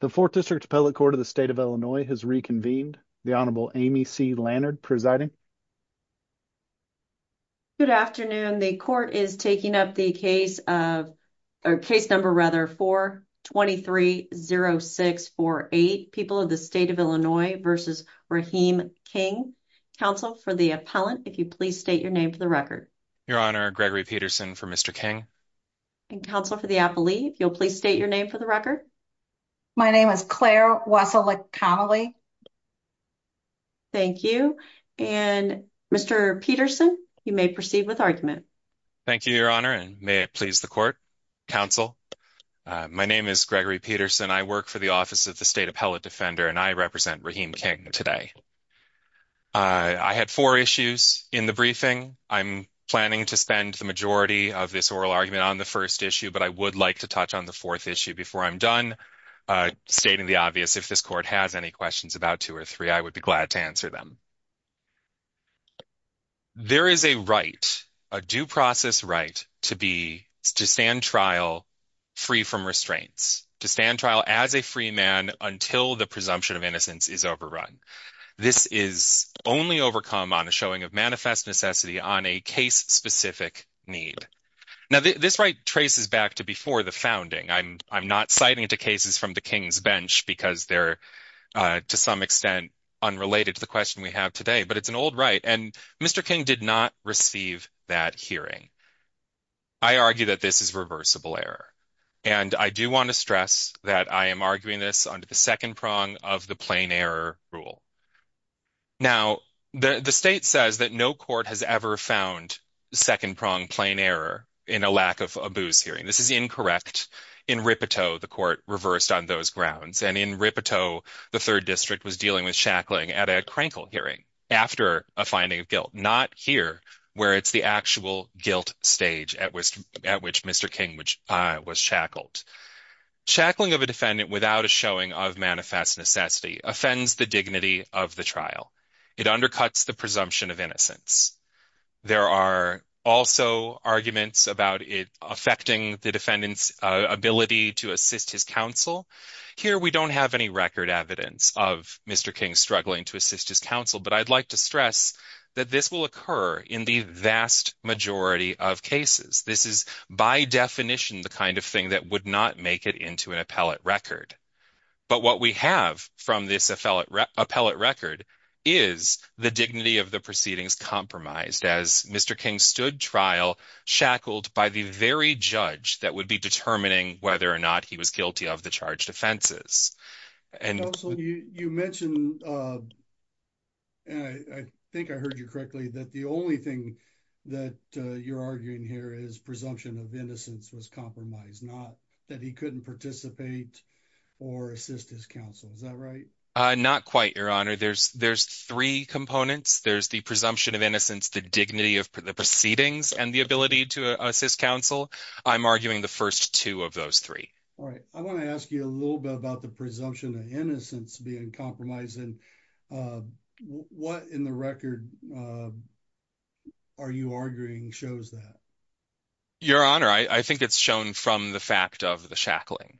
The 4th District Appellate Court of the State of Illinois has reconvened. The Honorable Amy C. Lannard presiding. Good afternoon. The court is taking up the case of, or case number rather, 4-230648, People of the State of Illinois v. Raheem King. Counsel for the appellant, if you please state your name for the record. Your Honor, Gregory Peterson for Mr. King. Counsel for the appellee, if you'll please state your name for the record. My name is Claire Wasilek Connelly. Thank you. And Mr. Peterson, you may proceed with argument. Thank you, Your Honor, and may it please the court, counsel. My name is Gregory Peterson. I work for the Office of the State Appellate Defender, and I represent Raheem King today. I had four issues in the briefing. I'm planning to spend the majority of this oral argument on the first issue, but I would like to touch on the fourth issue before I'm done. Stating the obvious, if this court has any questions about two or three, I would be glad to answer them. There is a right, a due process right, to be, to stand trial free from restraints. To stand trial as a free man until the presumption of innocence is overrun. This is only overcome on a showing of manifest necessity on a case-specific need. Now, this right traces back to before the founding. I'm not citing it to cases from the King's bench because they're, to some extent, unrelated to the question we have today, but it's an old right, and Mr. King did not receive that hearing. I argue that this is reversible error, and I do want to stress that I am arguing this under the second prong of the plain error rule. Now, the state says that no court has ever found second prong plain error in a lack of abuse hearing. This is incorrect. In Ripetoe, the court reversed on those grounds, and in Ripetoe, the third district was dealing with shackling at a crankle hearing after a finding of guilt. Not here, where it's the actual guilt stage at which Mr. King was shackled. Shackling of a defendant without a showing of manifest necessity offends the dignity of the trial. It undercuts the presumption of innocence. There are also arguments about it affecting the defendant's ability to assist his counsel. Here, we don't have any record evidence of Mr. King struggling to assist his counsel, but I'd like to stress that this will occur in the majority of cases. This is, by definition, the kind of thing that would not make it into an appellate record, but what we have from this appellate record is the dignity of the proceedings compromised as Mr. King stood trial shackled by the very judge that would be determining whether or not he was guilty of the charged offenses. Counsel, you mentioned, and I think I correctly, that the only thing that you're arguing here is presumption of innocence was compromised, not that he couldn't participate or assist his counsel. Is that right? Not quite, your honor. There's three components. There's the presumption of innocence, the dignity of the proceedings, and the ability to assist counsel. I'm arguing the first two of those three. All right. I want to ask you a little bit about the presumption of innocence being compromised, and what in the record are you arguing shows that? Your honor, I think it's shown from the fact of the shackling.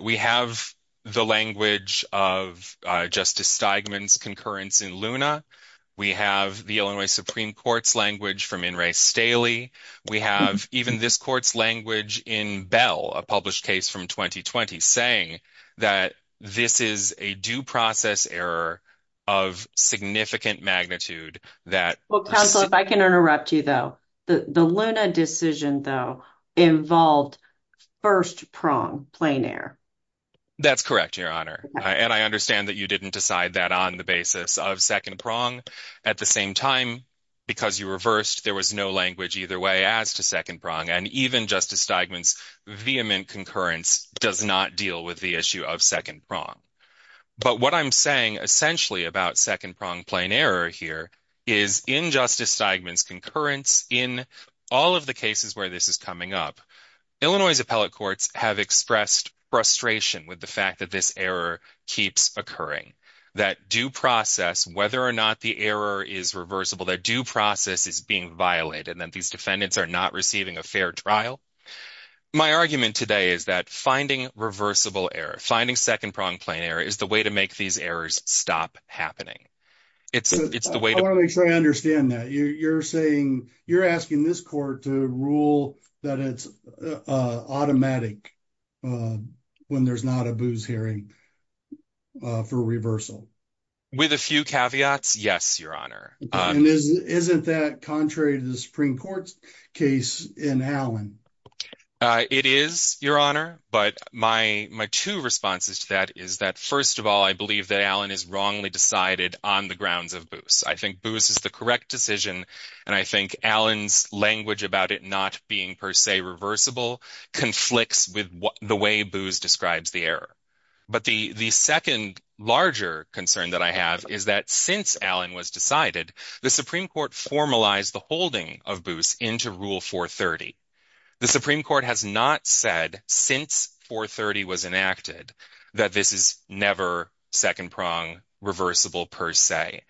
We have the language of Justice Steigman's concurrence in Luna. We have the Illinois Supreme Court's language from Inres Staley. We have even this court's language in Bell, a published case from 2020, saying that this is a due process error of significant magnitude that- Well, counsel, if I can interrupt you, though, the Luna decision, though, involved first prong, plain air. That's correct, your honor. And I understand that you didn't decide that on the basis of second prong. At the same time, because you reversed, there was no language either way as to second concurrence does not deal with the issue of second prong. But what I'm saying essentially about second prong plain error here is in Justice Steigman's concurrence, in all of the cases where this is coming up, Illinois' appellate courts have expressed frustration with the fact that this error keeps occurring, that due process, whether or not the error is reversible, that due process is being violated, and that these defendants are not receiving a fair trial. My argument today is that finding reversible error, finding second prong plain error is the way to make these errors stop happening. It's the way to- I want to make sure I understand that. You're saying, you're asking this court to rule that it's automatic when there's not a booze hearing for reversal. With a few caveats, yes, your honor. Isn't that contrary to the Supreme Court's case in Allen? It is, your honor, but my two responses to that is that, first of all, I believe that Allen is wrongly decided on the grounds of booze. I think booze is the correct decision, and I think Allen's language about it not being per se reversible conflicts with the way booze describes the error. But the second larger concern that I have is that since Allen was decided, the Supreme Court formalized the holding of booze into Rule 430. The Supreme Court has not said since 430 was enacted that this is never second prong reversible per se,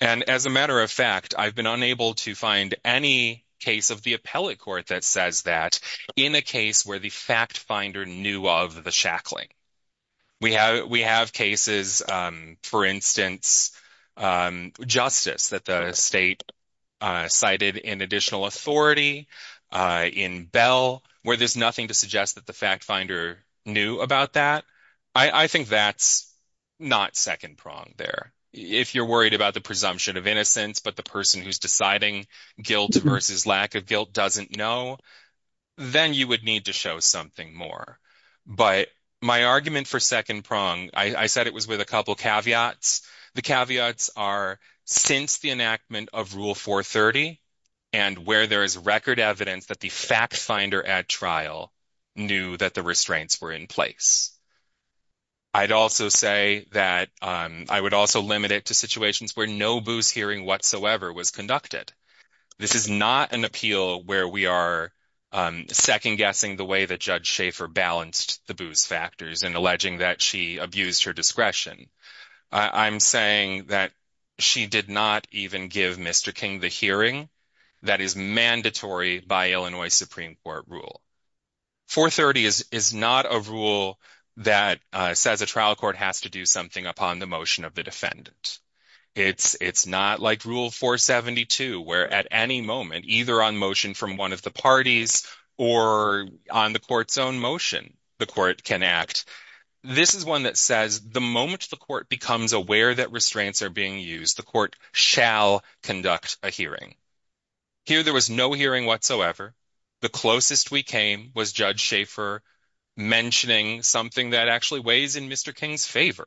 and as a matter of fact, I've been unable to find any case of the appellate court that says that in a case where the fact finder knew of the shackling. We have cases, for instance, justice that the state cited in additional authority, in Bell, where there's nothing to suggest that the fact finder knew about that. I think that's not second prong there. If you're worried about the presumption of innocence, but the person who's deciding guilt versus lack of guilt doesn't know, then you would need to show something more. But my argument for second prong, I said it was with a couple caveats. The caveats are since the enactment of Rule 430 and where there is record evidence that the fact finder at trial knew that the restraints were in place. I'd also say that I would also limit it to situations where no booze hearing whatsoever was conducted. This is not an appeal where we are second guessing the Judge Schaefer balanced the booze factors and alleging that she abused her discretion. I'm saying that she did not even give Mr. King the hearing that is mandatory by Illinois Supreme Court rule. 430 is not a rule that says a trial court has to do something upon the motion of the defendant. It's not like Rule 472, where at any moment, either on motion from one of the parties or on the court's own motion, the court can act. This is one that says the moment the court becomes aware that restraints are being used, the court shall conduct a hearing. Here, there was no hearing whatsoever. The closest we came was Judge Schaefer mentioning something that actually weighs in Mr. King's favor.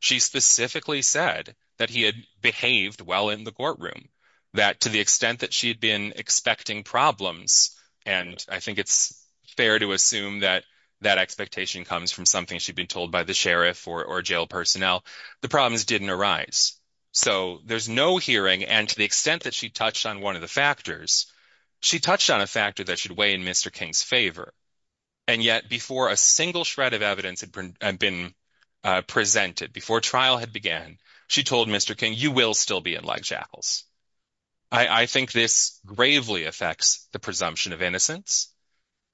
She specifically said that he had behaved well in the courtroom, that to the extent that she had been expecting problems, and I think it's fair to assume that that expectation comes from something she'd been told by the sheriff or jail personnel, the problems didn't arise. There's no hearing, and to the extent that she touched on one of the factors, she touched on a factor that should weigh in Mr. King's favor. Yet, before a single shred of evidence had been presented, before trial had began, she told Mr. King, you will still be in leg shackles. I think this gravely affects the presumption of innocence.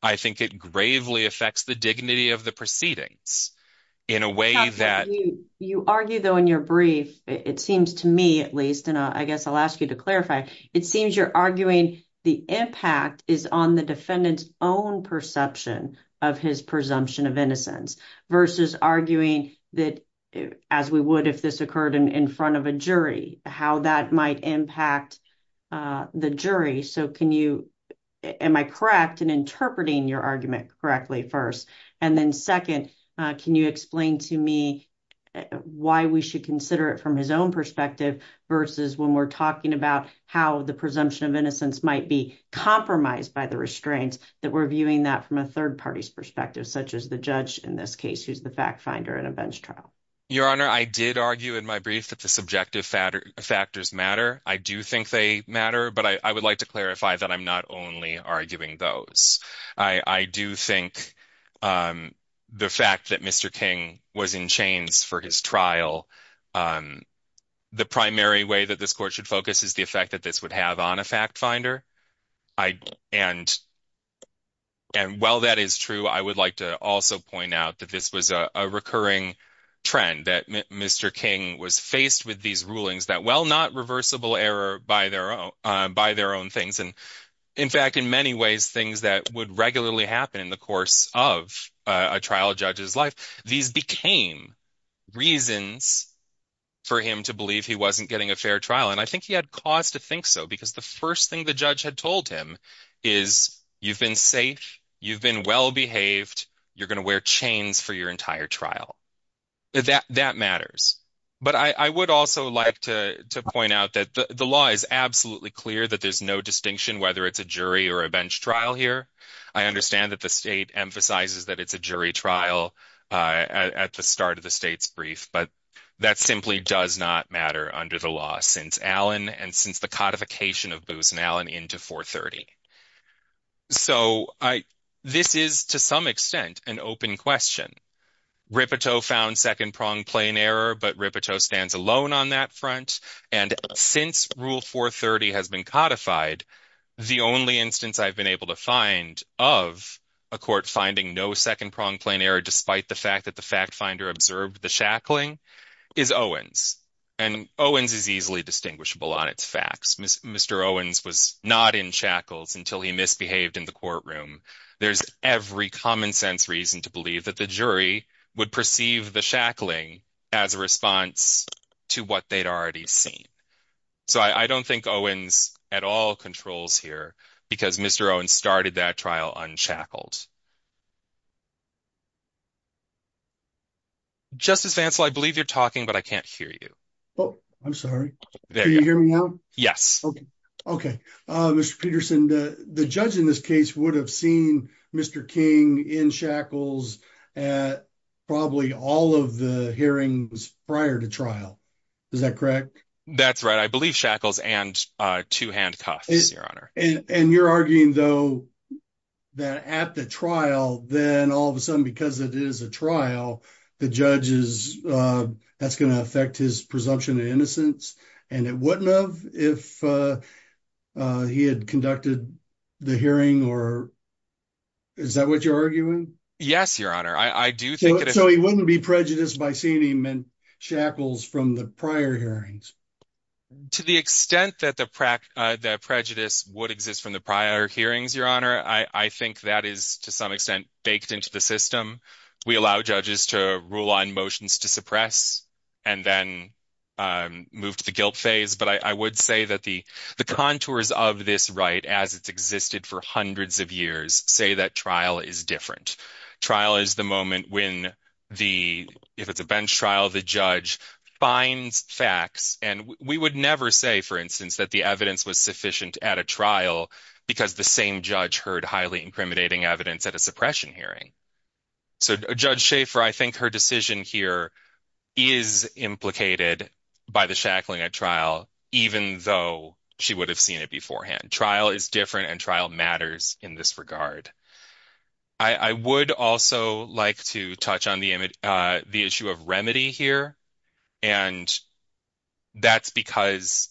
I think it gravely affects the dignity of the proceedings in a way that... You argue, though, in your brief, it seems to me at least, and I guess I'll ask you to clarify, it seems you're arguing the impact is on the defendant's own perception of his presumption of innocence versus arguing that, as we would if this occurred in front of a jury, how that might impact the jury. So can you... Am I correct in interpreting your argument correctly first? And then second, can you explain to me why we should consider it from his own perspective versus when we're talking about how the presumption of innocence might be compromised by the restraints, that we're viewing that from a third party's perspective, such as the judge in this case, who's the fact finder in a bench trial? Your Honor, I did argue in my brief that the subjective factors matter. I do think they matter, but I would like to clarify that I'm not only arguing those. I do think the fact that Mr. King was in chains for his trial, the primary way that this court should focus is the effect that this would have on a fact finder. And while that is true, I would like to also point out that this was a recurring trend, that Mr. King was faced with these rulings that, well, not reversible error by their own things. And in fact, in many ways, things that would regularly happen in the course of a trial judge's life, these became reasons for him to believe he wasn't getting a fair trial. And I think he had cause to think so, because the first thing the judge had told him is, you've been safe, you've been well-behaved, you're going to wear chains for your entire trial. That matters. But I would also like to point out that the law is absolutely clear that there's no distinction whether it's a jury or a bench trial here. I understand that the state emphasizes that it's a jury trial at the start of the state's brief, but that simply does not matter under the since Allen and since the codification of Booz and Allen into 430. So this is, to some extent, an open question. Rippetoe found second-prong plain error, but Rippetoe stands alone on that front. And since Rule 430 has been codified, the only instance I've been able to find of a court finding no second-prong plain error, despite the fact that the fact finder observed the shackling, is Owens. And Owens is easily distinguishable on its facts. Mr. Owens was not in shackles until he misbehaved in the courtroom. There's every common-sense reason to believe that the jury would perceive the shackling as a response to what they'd already seen. So I don't think Owens at all controls here, because Mr. Owens started that trial unshackled. Justice Vancell, I believe you're talking, but I can't hear you. Oh, I'm sorry. Can you hear me now? Yes. Okay. Mr. Peterson, the judge in this case would have seen Mr. King in shackles at probably all of the hearings prior to trial. Is that correct? That's right. I believe shackles and two handcuffs, Your Honor. And you're arguing, though, that at the trial, then all of a sudden, because it is a trial, the judge is, that's going to affect his presumption of innocence. And it wouldn't have if he had conducted the hearing or, is that what you're arguing? Yes, Your Honor. I do think- So he wouldn't be prejudiced by seeing him in shackles from the prior hearings? To the extent that the prejudice would exist from the prior hearings, Your Honor, I think that is, to some extent, baked into the system. We allow judges to rule on motions to suppress and then move to the guilt phase. But I would say that the contours of this right, as it's existed for hundreds of years, say that trial is different. Trial is the moment when the, if it's a bench trial, the judge finds facts. And we would never say, for instance, that the evidence was sufficient at a trial because the same judge heard highly incriminating evidence at a suppression hearing. So Judge Schaefer, I think her decision here is implicated by the shackling at trial, even though she would have seen it beforehand. Trial is different and matters in this regard. I would also like to touch on the issue of remedy here. And that's because,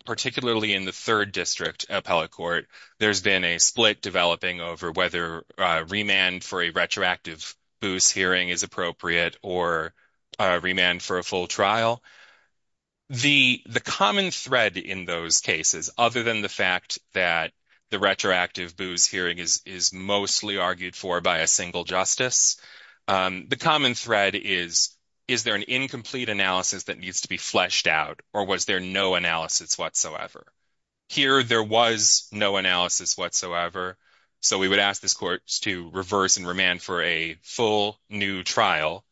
particularly in the third district appellate court, there's been a split developing over whether remand for a retroactive boost hearing is appropriate or remand for a full retroactive booze hearing is mostly argued for by a single justice. The common thread is, is there an incomplete analysis that needs to be fleshed out or was there no analysis whatsoever? Here, there was no analysis whatsoever. So we would ask this court to reverse and remand for a full new trial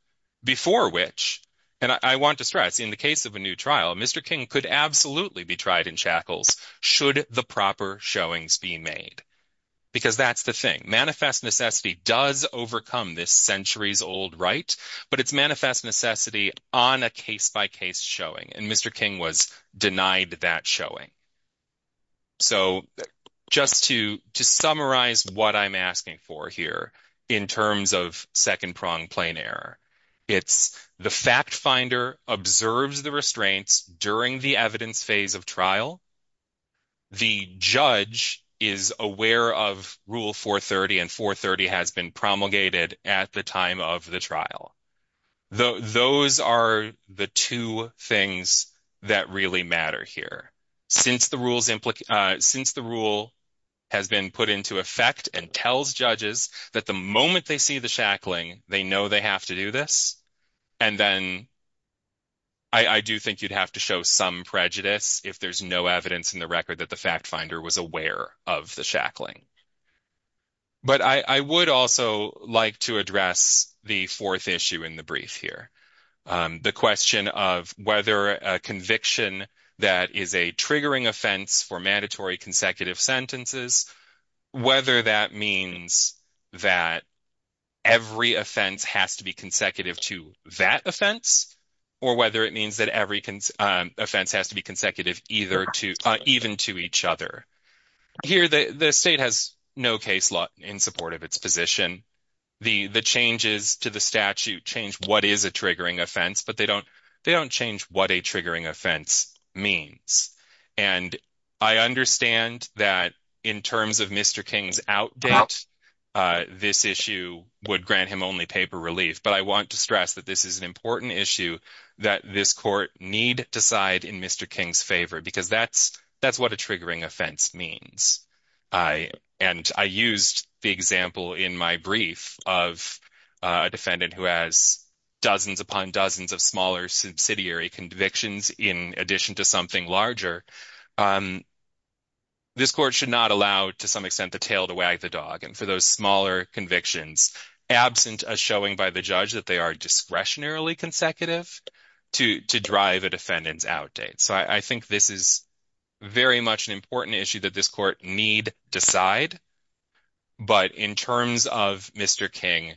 before which, and I want to stress in the case of a new trial, Mr. King could absolutely be tried in shackles should the proper showings be made, because that's the thing. Manifest necessity does overcome this centuries-old right, but it's manifest necessity on a case-by-case showing, and Mr. King was denied that showing. So just to summarize what I'm asking for here in terms of second-pronged plain error, it's the fact finder observes the restraints during the evidence phase of trial, the judge is aware of Rule 430, and 430 has been promulgated at the time of the trial. Those are the two things that really matter here. Since the rule has been put into effect and tells judges that the moment they see the shackling, they know they have to do this, and then I do think you'd have to show some prejudice if there's no evidence in the record that the fact finder was aware of the shackling. But I would also like to address the fourth issue in the brief here, the question of whether a conviction that is a triggering offense for mandatory consecutive sentences, whether that means that every offense has to be consecutive to that offense, or whether it means that every offense has to be consecutive even to each other. Here, the state has no case law in support of its position. The changes to the statute change what is a triggering offense, but they don't change what a triggering offense means. And I understand that in terms of Mr. King's outbid, this issue would grant him only paper relief, but I want to stress that this is an important issue that this court need decide in Mr. King's favor, because that's what a triggering offense means. And I used the example in my brief of a defendant who has dozens upon dozens of smaller subsidiary convictions in addition to something larger. This court should not allow, to some extent, the tail to wag the dog. And for those smaller convictions, absent a showing by the judge that they are discretionarily consecutive to drive a defendant's out date. So I think this is very much an important issue that this court need decide. But in terms of Mr. King,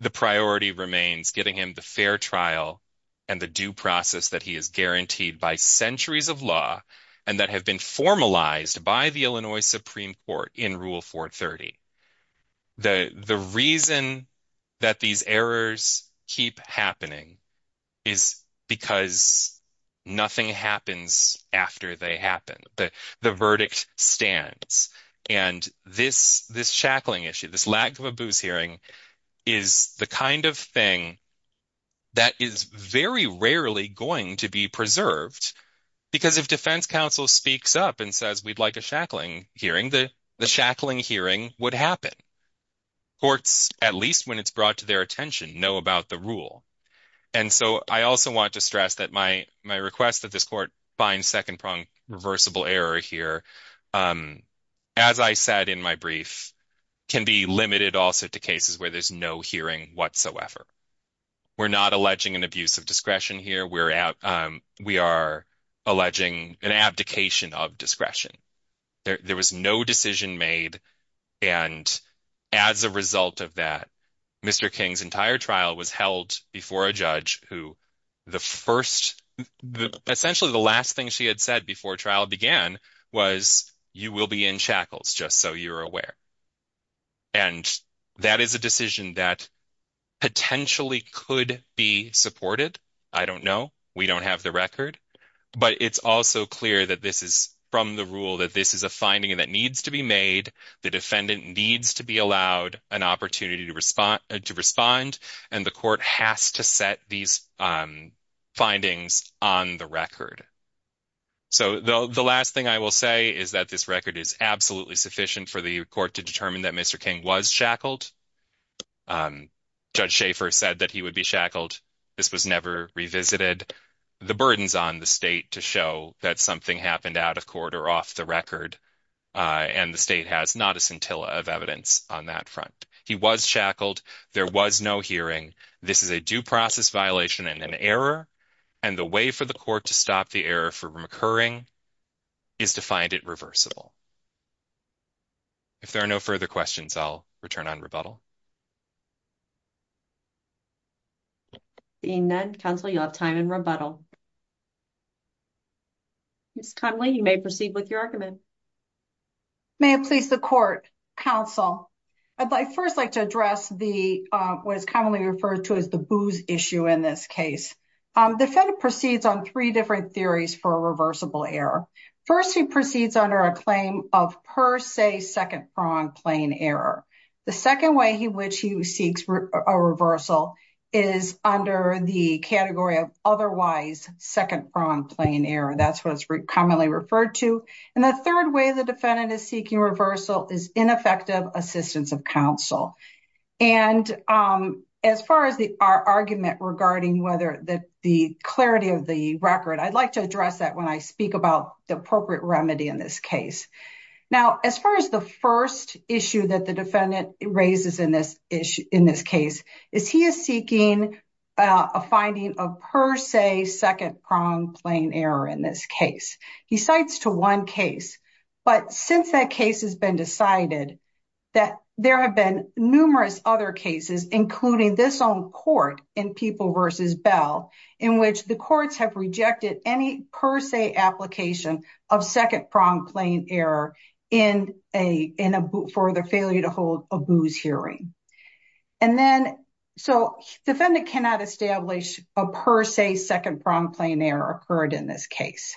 the priority remains getting him the fair trial and the due process that he is guaranteed by centuries of law and that have been formalized by the Illinois Supreme Court in Rule 430. The reason that these errors keep happening is because nothing happens after they happen. The verdict stands. And this shackling issue, this lack of a booze hearing, is the kind of thing that is very rarely going to be preserved, because if defense counsel speaks up and says we'd like a shackling hearing, the shackling hearing would happen. Courts, at least when it's brought to their attention, know about the rule. And so I also want to stress that my request that this court find second-pronged reversible error here, as I said in my brief, can be limited also to cases where there's no hearing whatsoever. We're not alleging an abuse of discretion here. We are alleging an abdication of discretion. There was no decision made. And as a result of that, Mr. King's entire trial was held before a judge who the first—essentially the last thing she had said before trial began was, you will be in shackles, just so you're aware. And that is a decision that potentially could be supported. I don't know. We don't have the record. But it's also clear that this is from the rule that this is a finding that needs to be made. The defendant needs to be allowed an opportunity to respond, and the court has to set these findings on the record. So the last thing I will say is that this record is absolutely sufficient for the court to determine that Mr. King was shackled. Judge Schaefer said that he would be shackled. This was never revisited. The burden's on the state to show that something happened out of court or off record, and the state has not a scintilla of evidence on that front. He was shackled. There was no hearing. This is a due process violation and an error, and the way for the court to stop the error from occurring is to find it reversible. If there are no further questions, I'll return on rebuttal. Seeing none, counsel, you'll have time in rebuttal. Ms. Connelly, you may proceed with your argument. May it please the court, counsel. I'd like first like to address what is commonly referred to as the booze issue in this case. The defendant proceeds on three different theories for a reversible error. First, he proceeds under a claim of per se second-pronged plain error. The second way in which he seeks a reversal is under the category of second-pronged plain error. That's what it's commonly referred to. The third way the defendant is seeking reversal is ineffective assistance of counsel. As far as our argument regarding the clarity of the record, I'd like to address that when I speak about the appropriate remedy in this case. Now, as far as the first issue that the defendant raises in this case is he is seeking a finding of per se second-pronged plain error in this case. He cites to one case, but since that case has been decided, that there have been numerous other cases, including this own court in People v. Bell, in which the courts have rejected any per se application of second-pronged hearing. The defendant cannot establish a per se second-pronged plain error occurred in this case.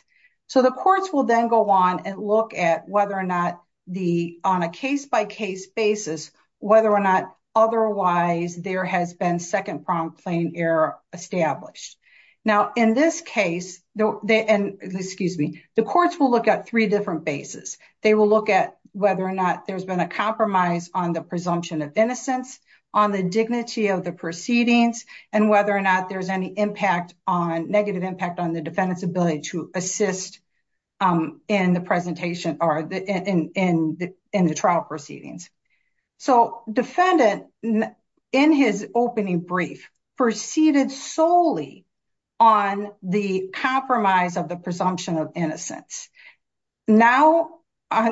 The courts will then go on and look at whether or not on a case-by-case basis, whether or not otherwise there has been second-pronged plain error established. In this case, the courts will look at three different bases. They will look at whether or not there has been a compromise on the presumption of innocence, on the dignity of the proceedings, and whether or not there is any negative impact on the defendant's ability to assist in the trial proceedings. The defendant, in his opening brief, proceeded solely on the compromise of the presumption of innocence. Now,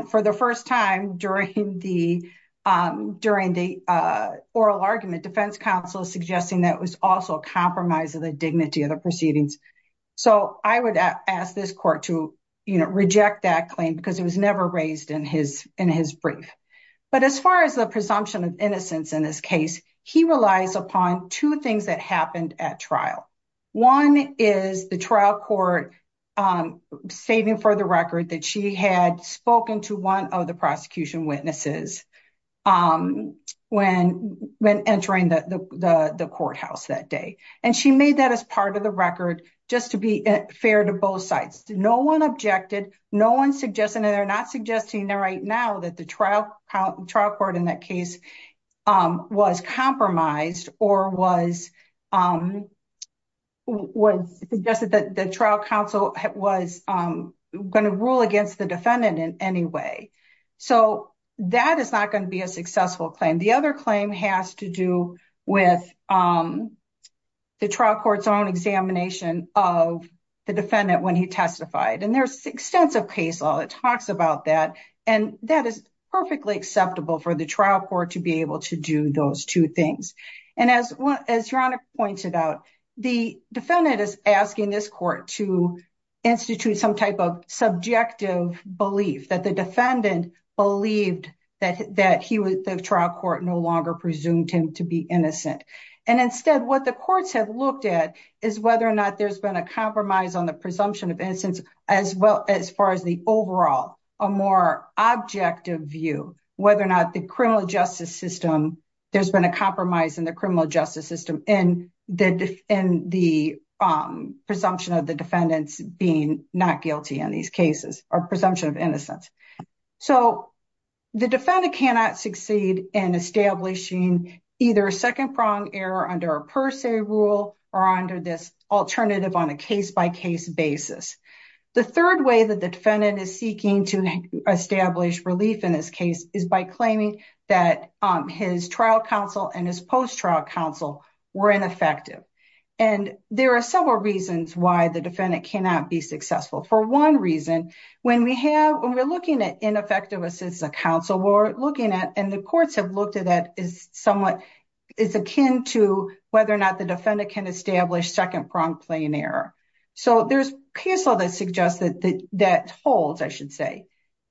for the first time during the oral argument, defense counsel is suggesting that it was also a compromise of the dignity of the proceedings. So, I would ask this court to reject that claim because it was never raised in his brief. But as far as the presumption of innocence in this case, he relies upon two things that at trial. One is the trial court stating for the record that she had spoken to one of the prosecution witnesses when entering the courthouse that day. And she made that as part of the record just to be fair to both sides. No one objected, no one suggested, and they're not suggesting there right now that the trial trial court in that case was compromised or suggested that the trial counsel was going to rule against the defendant in any way. So, that is not going to be a successful claim. The other claim has to do with the trial court's own examination of the defendant when he testified. And there's extensive case law that talks about that. And that is perfectly acceptable for the trial court to be able to do those two things. And as Yannick pointed out, the defendant is asking this court to institute some type of subjective belief that the defendant believed that the trial court no longer presumed him to be innocent. And instead, what the courts have looked at is whether or not there's been a compromise on the presumption of innocence as well as far as the overall, a more objective view, whether or not the criminal justice system, there's been a compromise in the criminal justice system in the presumption of the defendants being not guilty in these cases or presumption of innocence. So, the defendant cannot succeed in establishing either a second prong error under a rule or under this alternative on a case-by-case basis. The third way that the defendant is seeking to establish relief in this case is by claiming that his trial counsel and his post-trial counsel were ineffective. And there are several reasons why the defendant cannot be successful. For one reason, when we have, when we're looking at ineffective assistive counsel, we're looking at, and the courts have looked at that as somewhat, is akin to whether or not the defendant can establish second prong plain error. So, there's counsel that suggests that holds, I should say,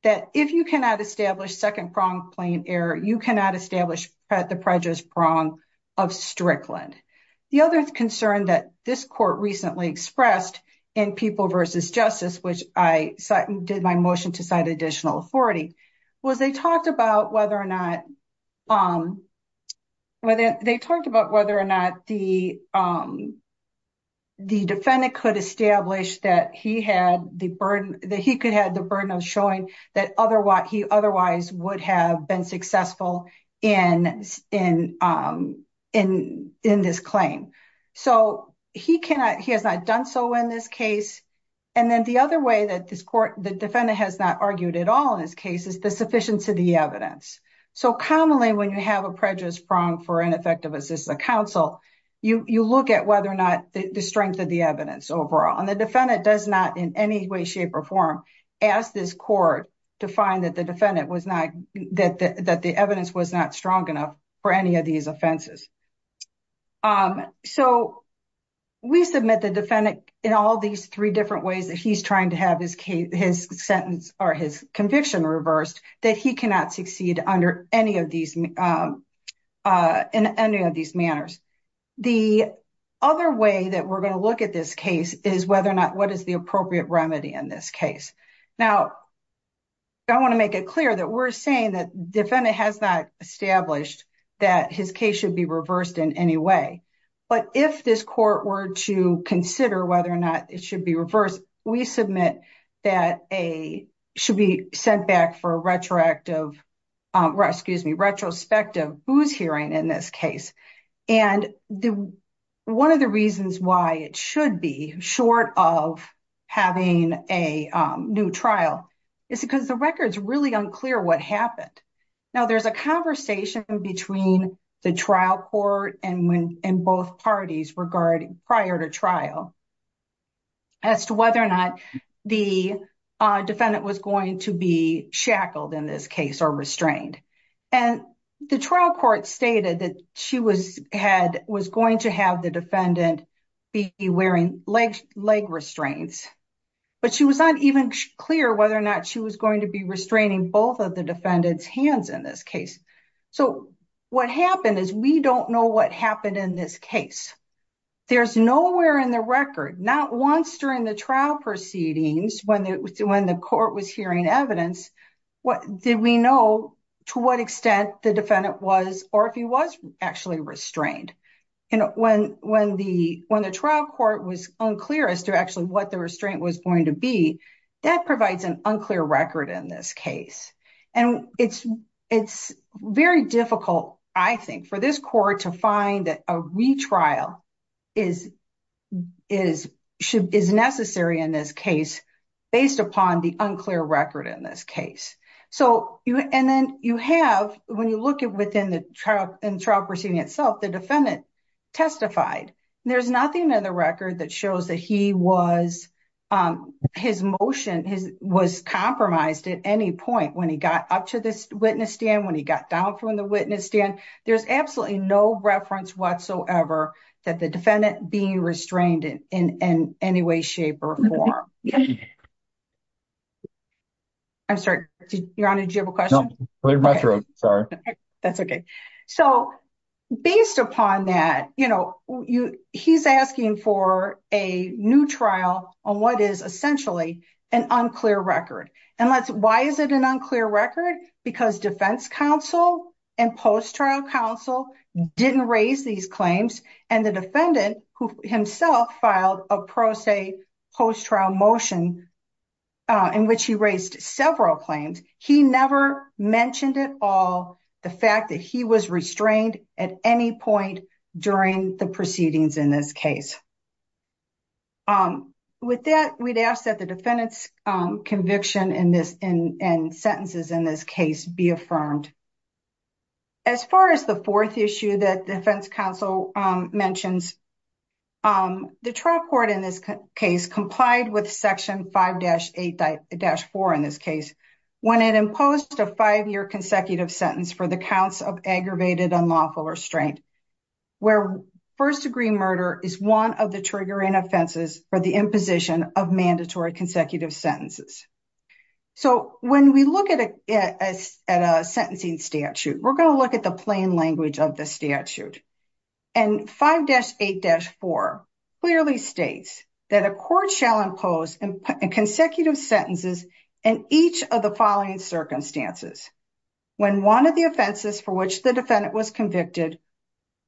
that if you cannot establish second prong plain error, you cannot establish the prejudice prong of Strickland. The other concern that this court recently expressed in People versus Justice, which I did my motion to cite additional authority, was they talked about whether or not the defendant could establish that he could have the burden of showing that he otherwise would have been successful in this claim. So, he has not done so in this case. And then the other way that this court, the defendant has not argued at all in this case is the sufficiency of the evidence. So, commonly when you have a prejudice prong for ineffective assistive counsel, you look at whether or not the strength of the evidence overall. And the defendant does not in any way, shape, or form ask this court to find that the defendant was not, that the evidence was not strong enough for any of these offenses. So, we submit the defendant in all these three different ways that he's trying to have his sentence or his conviction reversed, that he cannot succeed under any of these, in any of these manners. The other way that we're going to look at this case is whether or not what is the appropriate remedy in this case. Now, I want to make it clear that we're saying that the defendant has not established that his case should be reversed in any way. But if this court were to consider whether or not it should be reversed, we submit that a, should be sent back for a retroactive, excuse me, retrospective booze hearing in this case. And the, one of the reasons why it should be short of having a new trial is because the record's really unclear what happened. Now, there's a conversation between the trial court and when, and both parties regarding prior to trial as to whether or not the defendant was going to be shackled in this case or restrained. And the trial court stated that she was, had, was going to have the defendant be wearing leg, leg restraints, but she was not even clear whether or not she was going to be restraining both of the defendant's hands in this case. So what happened is we don't know what happened in this case. There's nowhere in the record, not once during the trial proceedings when the, when the court was hearing evidence, what did we know to what extent the defendant was, or if he was actually restrained. And when, when the, when the trial court was unclear as to actually what the restraint was going to be, that provides an unclear record in this case. And it's, it's very difficult, I think, for this court to find that a retrial is, is, should, is necessary in this case based upon the unclear record in this case. So you, and then you have, when you look at within the trial, in trial proceeding itself, the defendant testified. There's nothing in the record that shows that he was, his motion was compromised at any point when he got up to this witness stand, when he got down from the witness stand. There's absolutely no reference whatsoever that the defendant being restrained in any way, shape, or form. I'm sorry, Your Honor, did you have a question? No, I'm sorry. That's okay. So based upon that, you know, you, he's asking for a new trial on what is essentially an unclear record. And let's, why is it an unclear record? Because defense counsel and post-trial counsel didn't raise these claims. And the defendant who himself filed a pro se post-trial motion in which he raised several claims, he never mentioned at all the fact that he was restrained at any point during the proceedings in this case. With that, we'd ask that the defendant's conviction in this, in sentences in this case be affirmed. As far as the fourth issue that defense counsel mentions, the trial court in this case complied with section 5-8-4 in this case when it imposed a five-year consecutive sentence for the counts of aggravated unlawful restraint, where first degree murder is one of the triggering offenses for the imposition of mandatory consecutive sentences. So when we look at a sentencing statute, we're going to look at the 5-8-4 clearly states that a court shall impose consecutive sentences in each of the following circumstances. When one of the offenses for which the defendant was convicted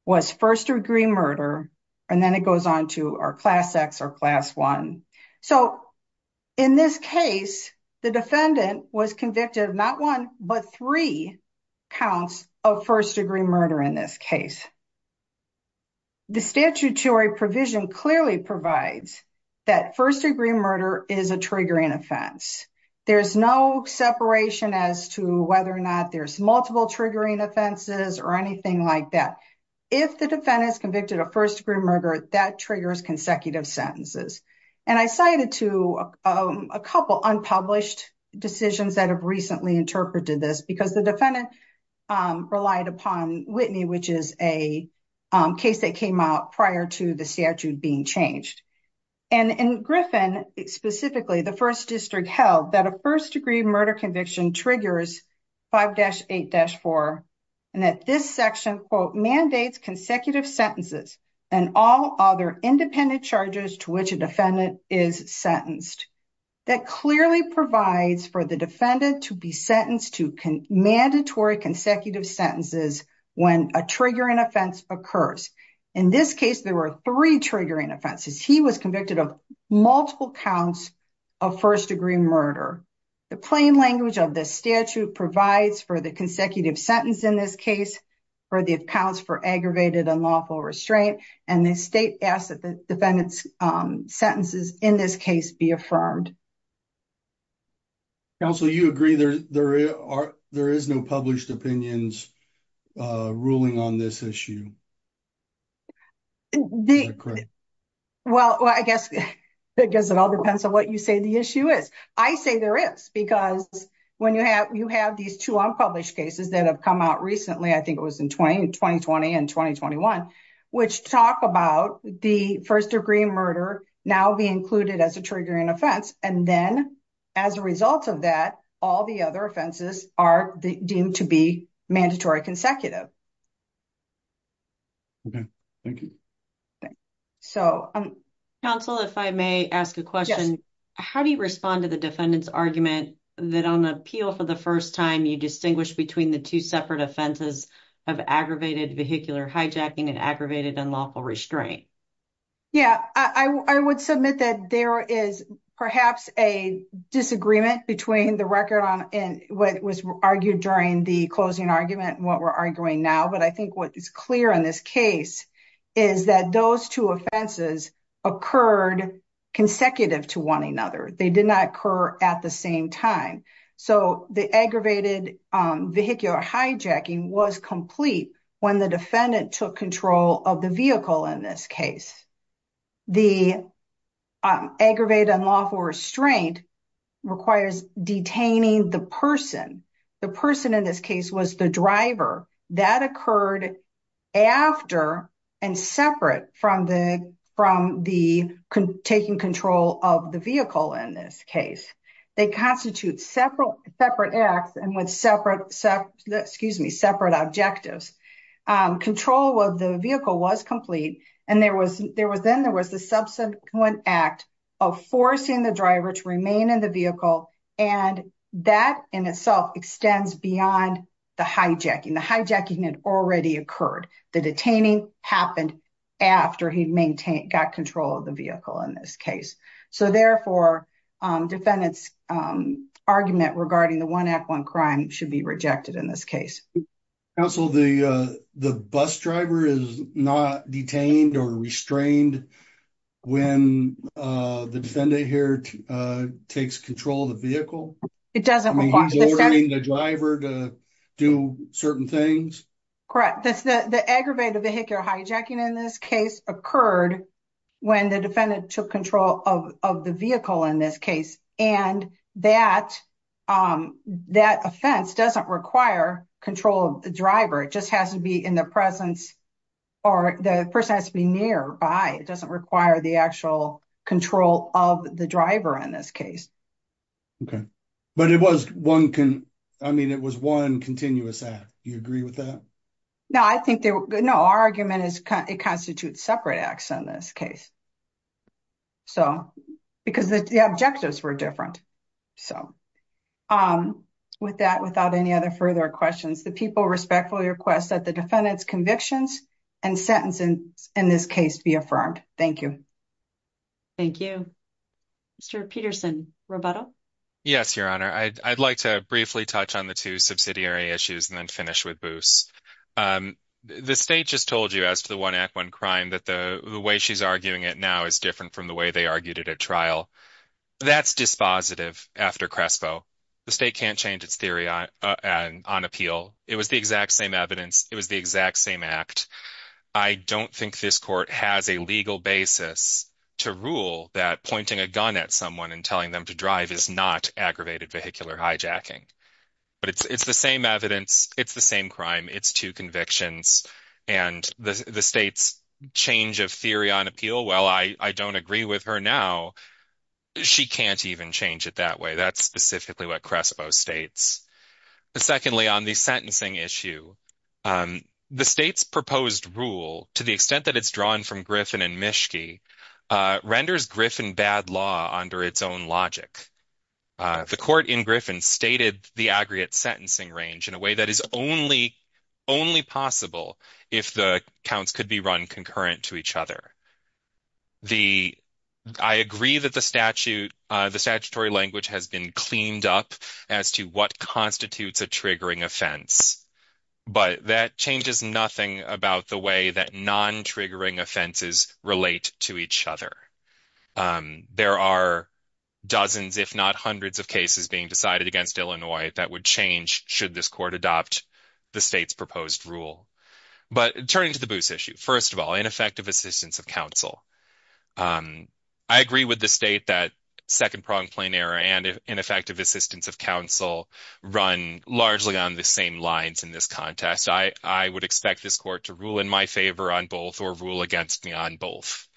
was first degree murder, and then it goes on to our class X or class one. So in this case, the defendant was convicted of not one but three counts of first degree murder in this case. The statutory provision clearly provides that first degree murder is a triggering offense. There's no separation as to whether or not there's multiple triggering offenses or anything like that. If the defendant is convicted of first degree murder, that triggers consecutive sentences. And I cited to a couple unpublished decisions that have recently interpreted this because the defendant relied upon Whitney, which is a case that came out prior to the statute being changed. And in Griffin specifically, the first district held that a first degree murder conviction triggers 5-8-4 and that this section, quote, mandates consecutive sentences and all other independent charges to which a defendant is sentenced. That clearly provides for the defendant to be sentenced to mandatory consecutive sentences when a triggering offense occurs. In this case, there were three triggering offenses. He was convicted of multiple counts of first degree murder. The plain language of this statute provides for the consecutive sentence in this case for the accounts for unlawful restraint. And the state asked that the defendant's sentences in this case be affirmed. Counsel, you agree there is no published opinions ruling on this issue? Well, I guess it all depends on what you say the issue is. I say there is because when you have these two unpublished cases that have come out recently, I think it was in 2020 and 2021, which talk about the first degree murder now be included as a triggering offense. And then as a result of that, all the other offenses are deemed to be mandatory consecutive. Okay, thank you. Counsel, if I may ask a question, how do you respond to the defendant's argument that on appeal for the first time you distinguish between the two separate offenses of aggravated vehicular hijacking and aggravated unlawful restraint? Yeah, I would submit that there is perhaps a disagreement between the record on what was argued during the closing argument and what we're arguing now. But I think what is clear in this case is that those two offenses occurred consecutive to one another. They did not occur at the same time. So the aggravated vehicular hijacking was complete when the defendant took control of the vehicle in this case. The aggravated unlawful restraint requires detaining the person. The person in this case was the driver that occurred after and separate from the taking control of the vehicle in this case. They constitute separate acts and with separate objectives. Control of the vehicle was complete. And then there was the subsequent act of forcing the driver to remain in the vehicle. And that in itself extends beyond the hijacking. The hijacking had already occurred. The detaining happened after he got control of the vehicle in this case. So therefore, defendant's argument regarding the one act one crime should be rejected in this case. Counsel, the bus driver is not detained or restrained when the defendant here takes control of the vehicle. It doesn't require the driver to do certain things. Correct. The aggravated vehicular hijacking in this case occurred when the defendant took control of the vehicle in this case. And that offense doesn't require control of the driver. It just has to be in the presence or the person has to be nearby. It doesn't require the actual control of the driver in this case. Okay. But it was one continuous act. Do you agree with that? No, I think our argument is it constitutes separate acts in this case. So, because the objectives were different. So, with that, without any other further questions, the people respectfully request that the defendant's convictions and sentencing in this case be affirmed. Thank you. Thank you. Mr. Peterson, Roberto? Yes, Your Honor. I'd like to briefly touch on the two subsidiary issues and then finish with Boos. The state just told you as to the one act one crime that the way she's arguing it now is different from the way they argued it at trial. That's dispositive after Crespo. The state can't change its theory on appeal. It was the exact same evidence. It was the exact same act. I don't think this court has a legal basis to rule that pointing a gun at someone and telling them to drive is not aggravated vehicular hijacking. But it's the same evidence. It's the same crime. It's two convictions. And the state's change of theory on appeal, well, I don't agree with her now. She can't even change it that way. That's specifically what Crespo states. Secondly, on the sentencing issue, the state's proposed rule, to the extent that it's drawn from Griffin and Mischke, renders Griffin bad law under its own logic. The court in Griffin stated the aggregate sentencing range in a way that is only possible if the counts could be run concurrent to each other. I agree that the statutory language has been cleaned up as to what constitutes a triggering offense. But that changes nothing about the way that non-triggering offenses relate to each other. There are dozens, if not hundreds, of cases being decided against Illinois that would change should this court adopt the state's proposed rule. But turning to the Booth issue, first of all, ineffective assistance of counsel. I agree with the state that second pronged plain error and ineffective assistance of counsel run largely on the same lines in this contest. I would expect this court to rule in my favor or rule against me on both.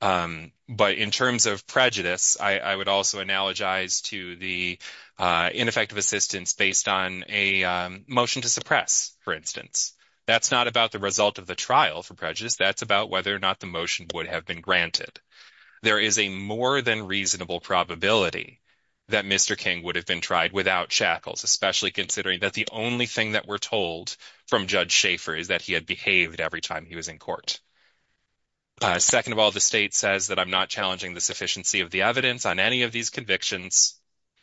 But in terms of prejudice, I would also analogize to the ineffective assistance based on a motion to suppress, for instance. That's not about the result of the trial for prejudice. That's about whether or not the motion would have been granted. There is a more than reasonable probability that Mr. King would have been tried without shackles, especially considering that the only thing that we're told from Judge Schaefer is that he had every time he was in court. Second of all, the state says that I'm not challenging the sufficiency of the evidence on any of these convictions.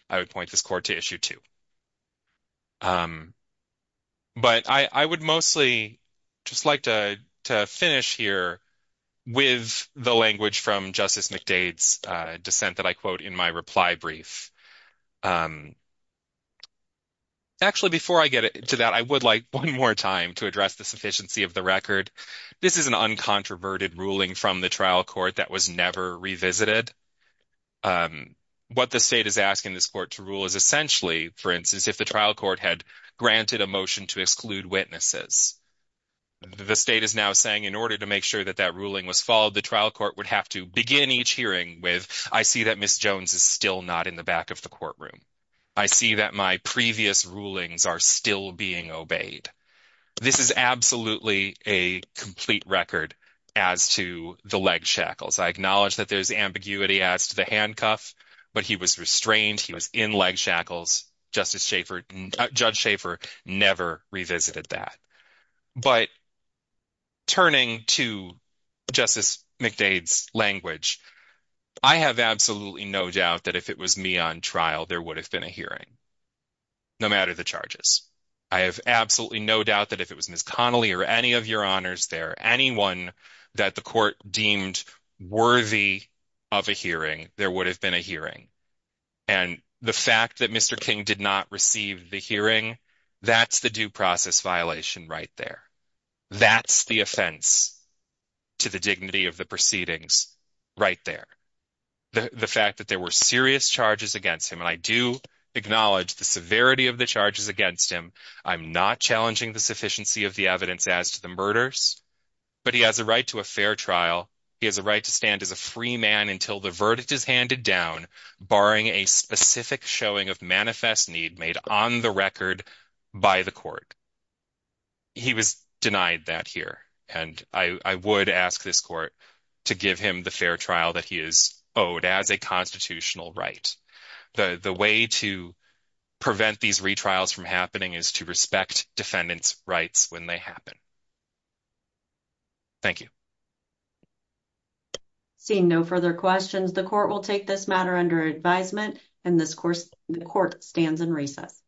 I would point this court to issue 2. But I would mostly just like to finish here with the language from Justice McDade's dissent that I quote in my reply brief. Actually, before I get to that, I would like one more time to address the sufficiency of the record. This is an uncontroverted ruling from the trial court that was never revisited. What the state is asking this court to rule is essentially, for instance, if the trial court had granted a motion to exclude witnesses. The state is now saying in order to make sure that that ruling was followed, the trial court would have to begin each hearing with, I see that Ms. Jones is still not in the back of the courtroom. I see that my previous rulings are still being obeyed. This is absolutely a complete record as to the leg shackles. I acknowledge that there's ambiguity as to the handcuff, but he was restrained. He was in leg shackles. Judge Schaefer never revisited that. But turning to Justice McDade's language, I have absolutely no doubt that if it was me on trial, there would have been a hearing, no matter the charges. I have absolutely no doubt that if it was Ms. Connelly or any of your honors there, anyone that the court deemed worthy of a hearing, there would have been a hearing. The fact that Mr. King did not receive the hearing, that's the due process violation right there. That's the offense to the dignity of the proceedings right there. The fact that were serious charges against him, and I do acknowledge the severity of the charges against him. I'm not challenging the sufficiency of the evidence as to the murders, but he has a right to a fair trial. He has a right to stand as a free man until the verdict is handed down, barring a specific showing of manifest need made on the record by the court. He was denied that and I would ask this court to give him the fair trial that he is owed as a constitutional right. The way to prevent these retrials from happening is to respect defendants' rights when they happen. Thank you. Seeing no further questions, the court will take this matter under advisement and the court stands in recess.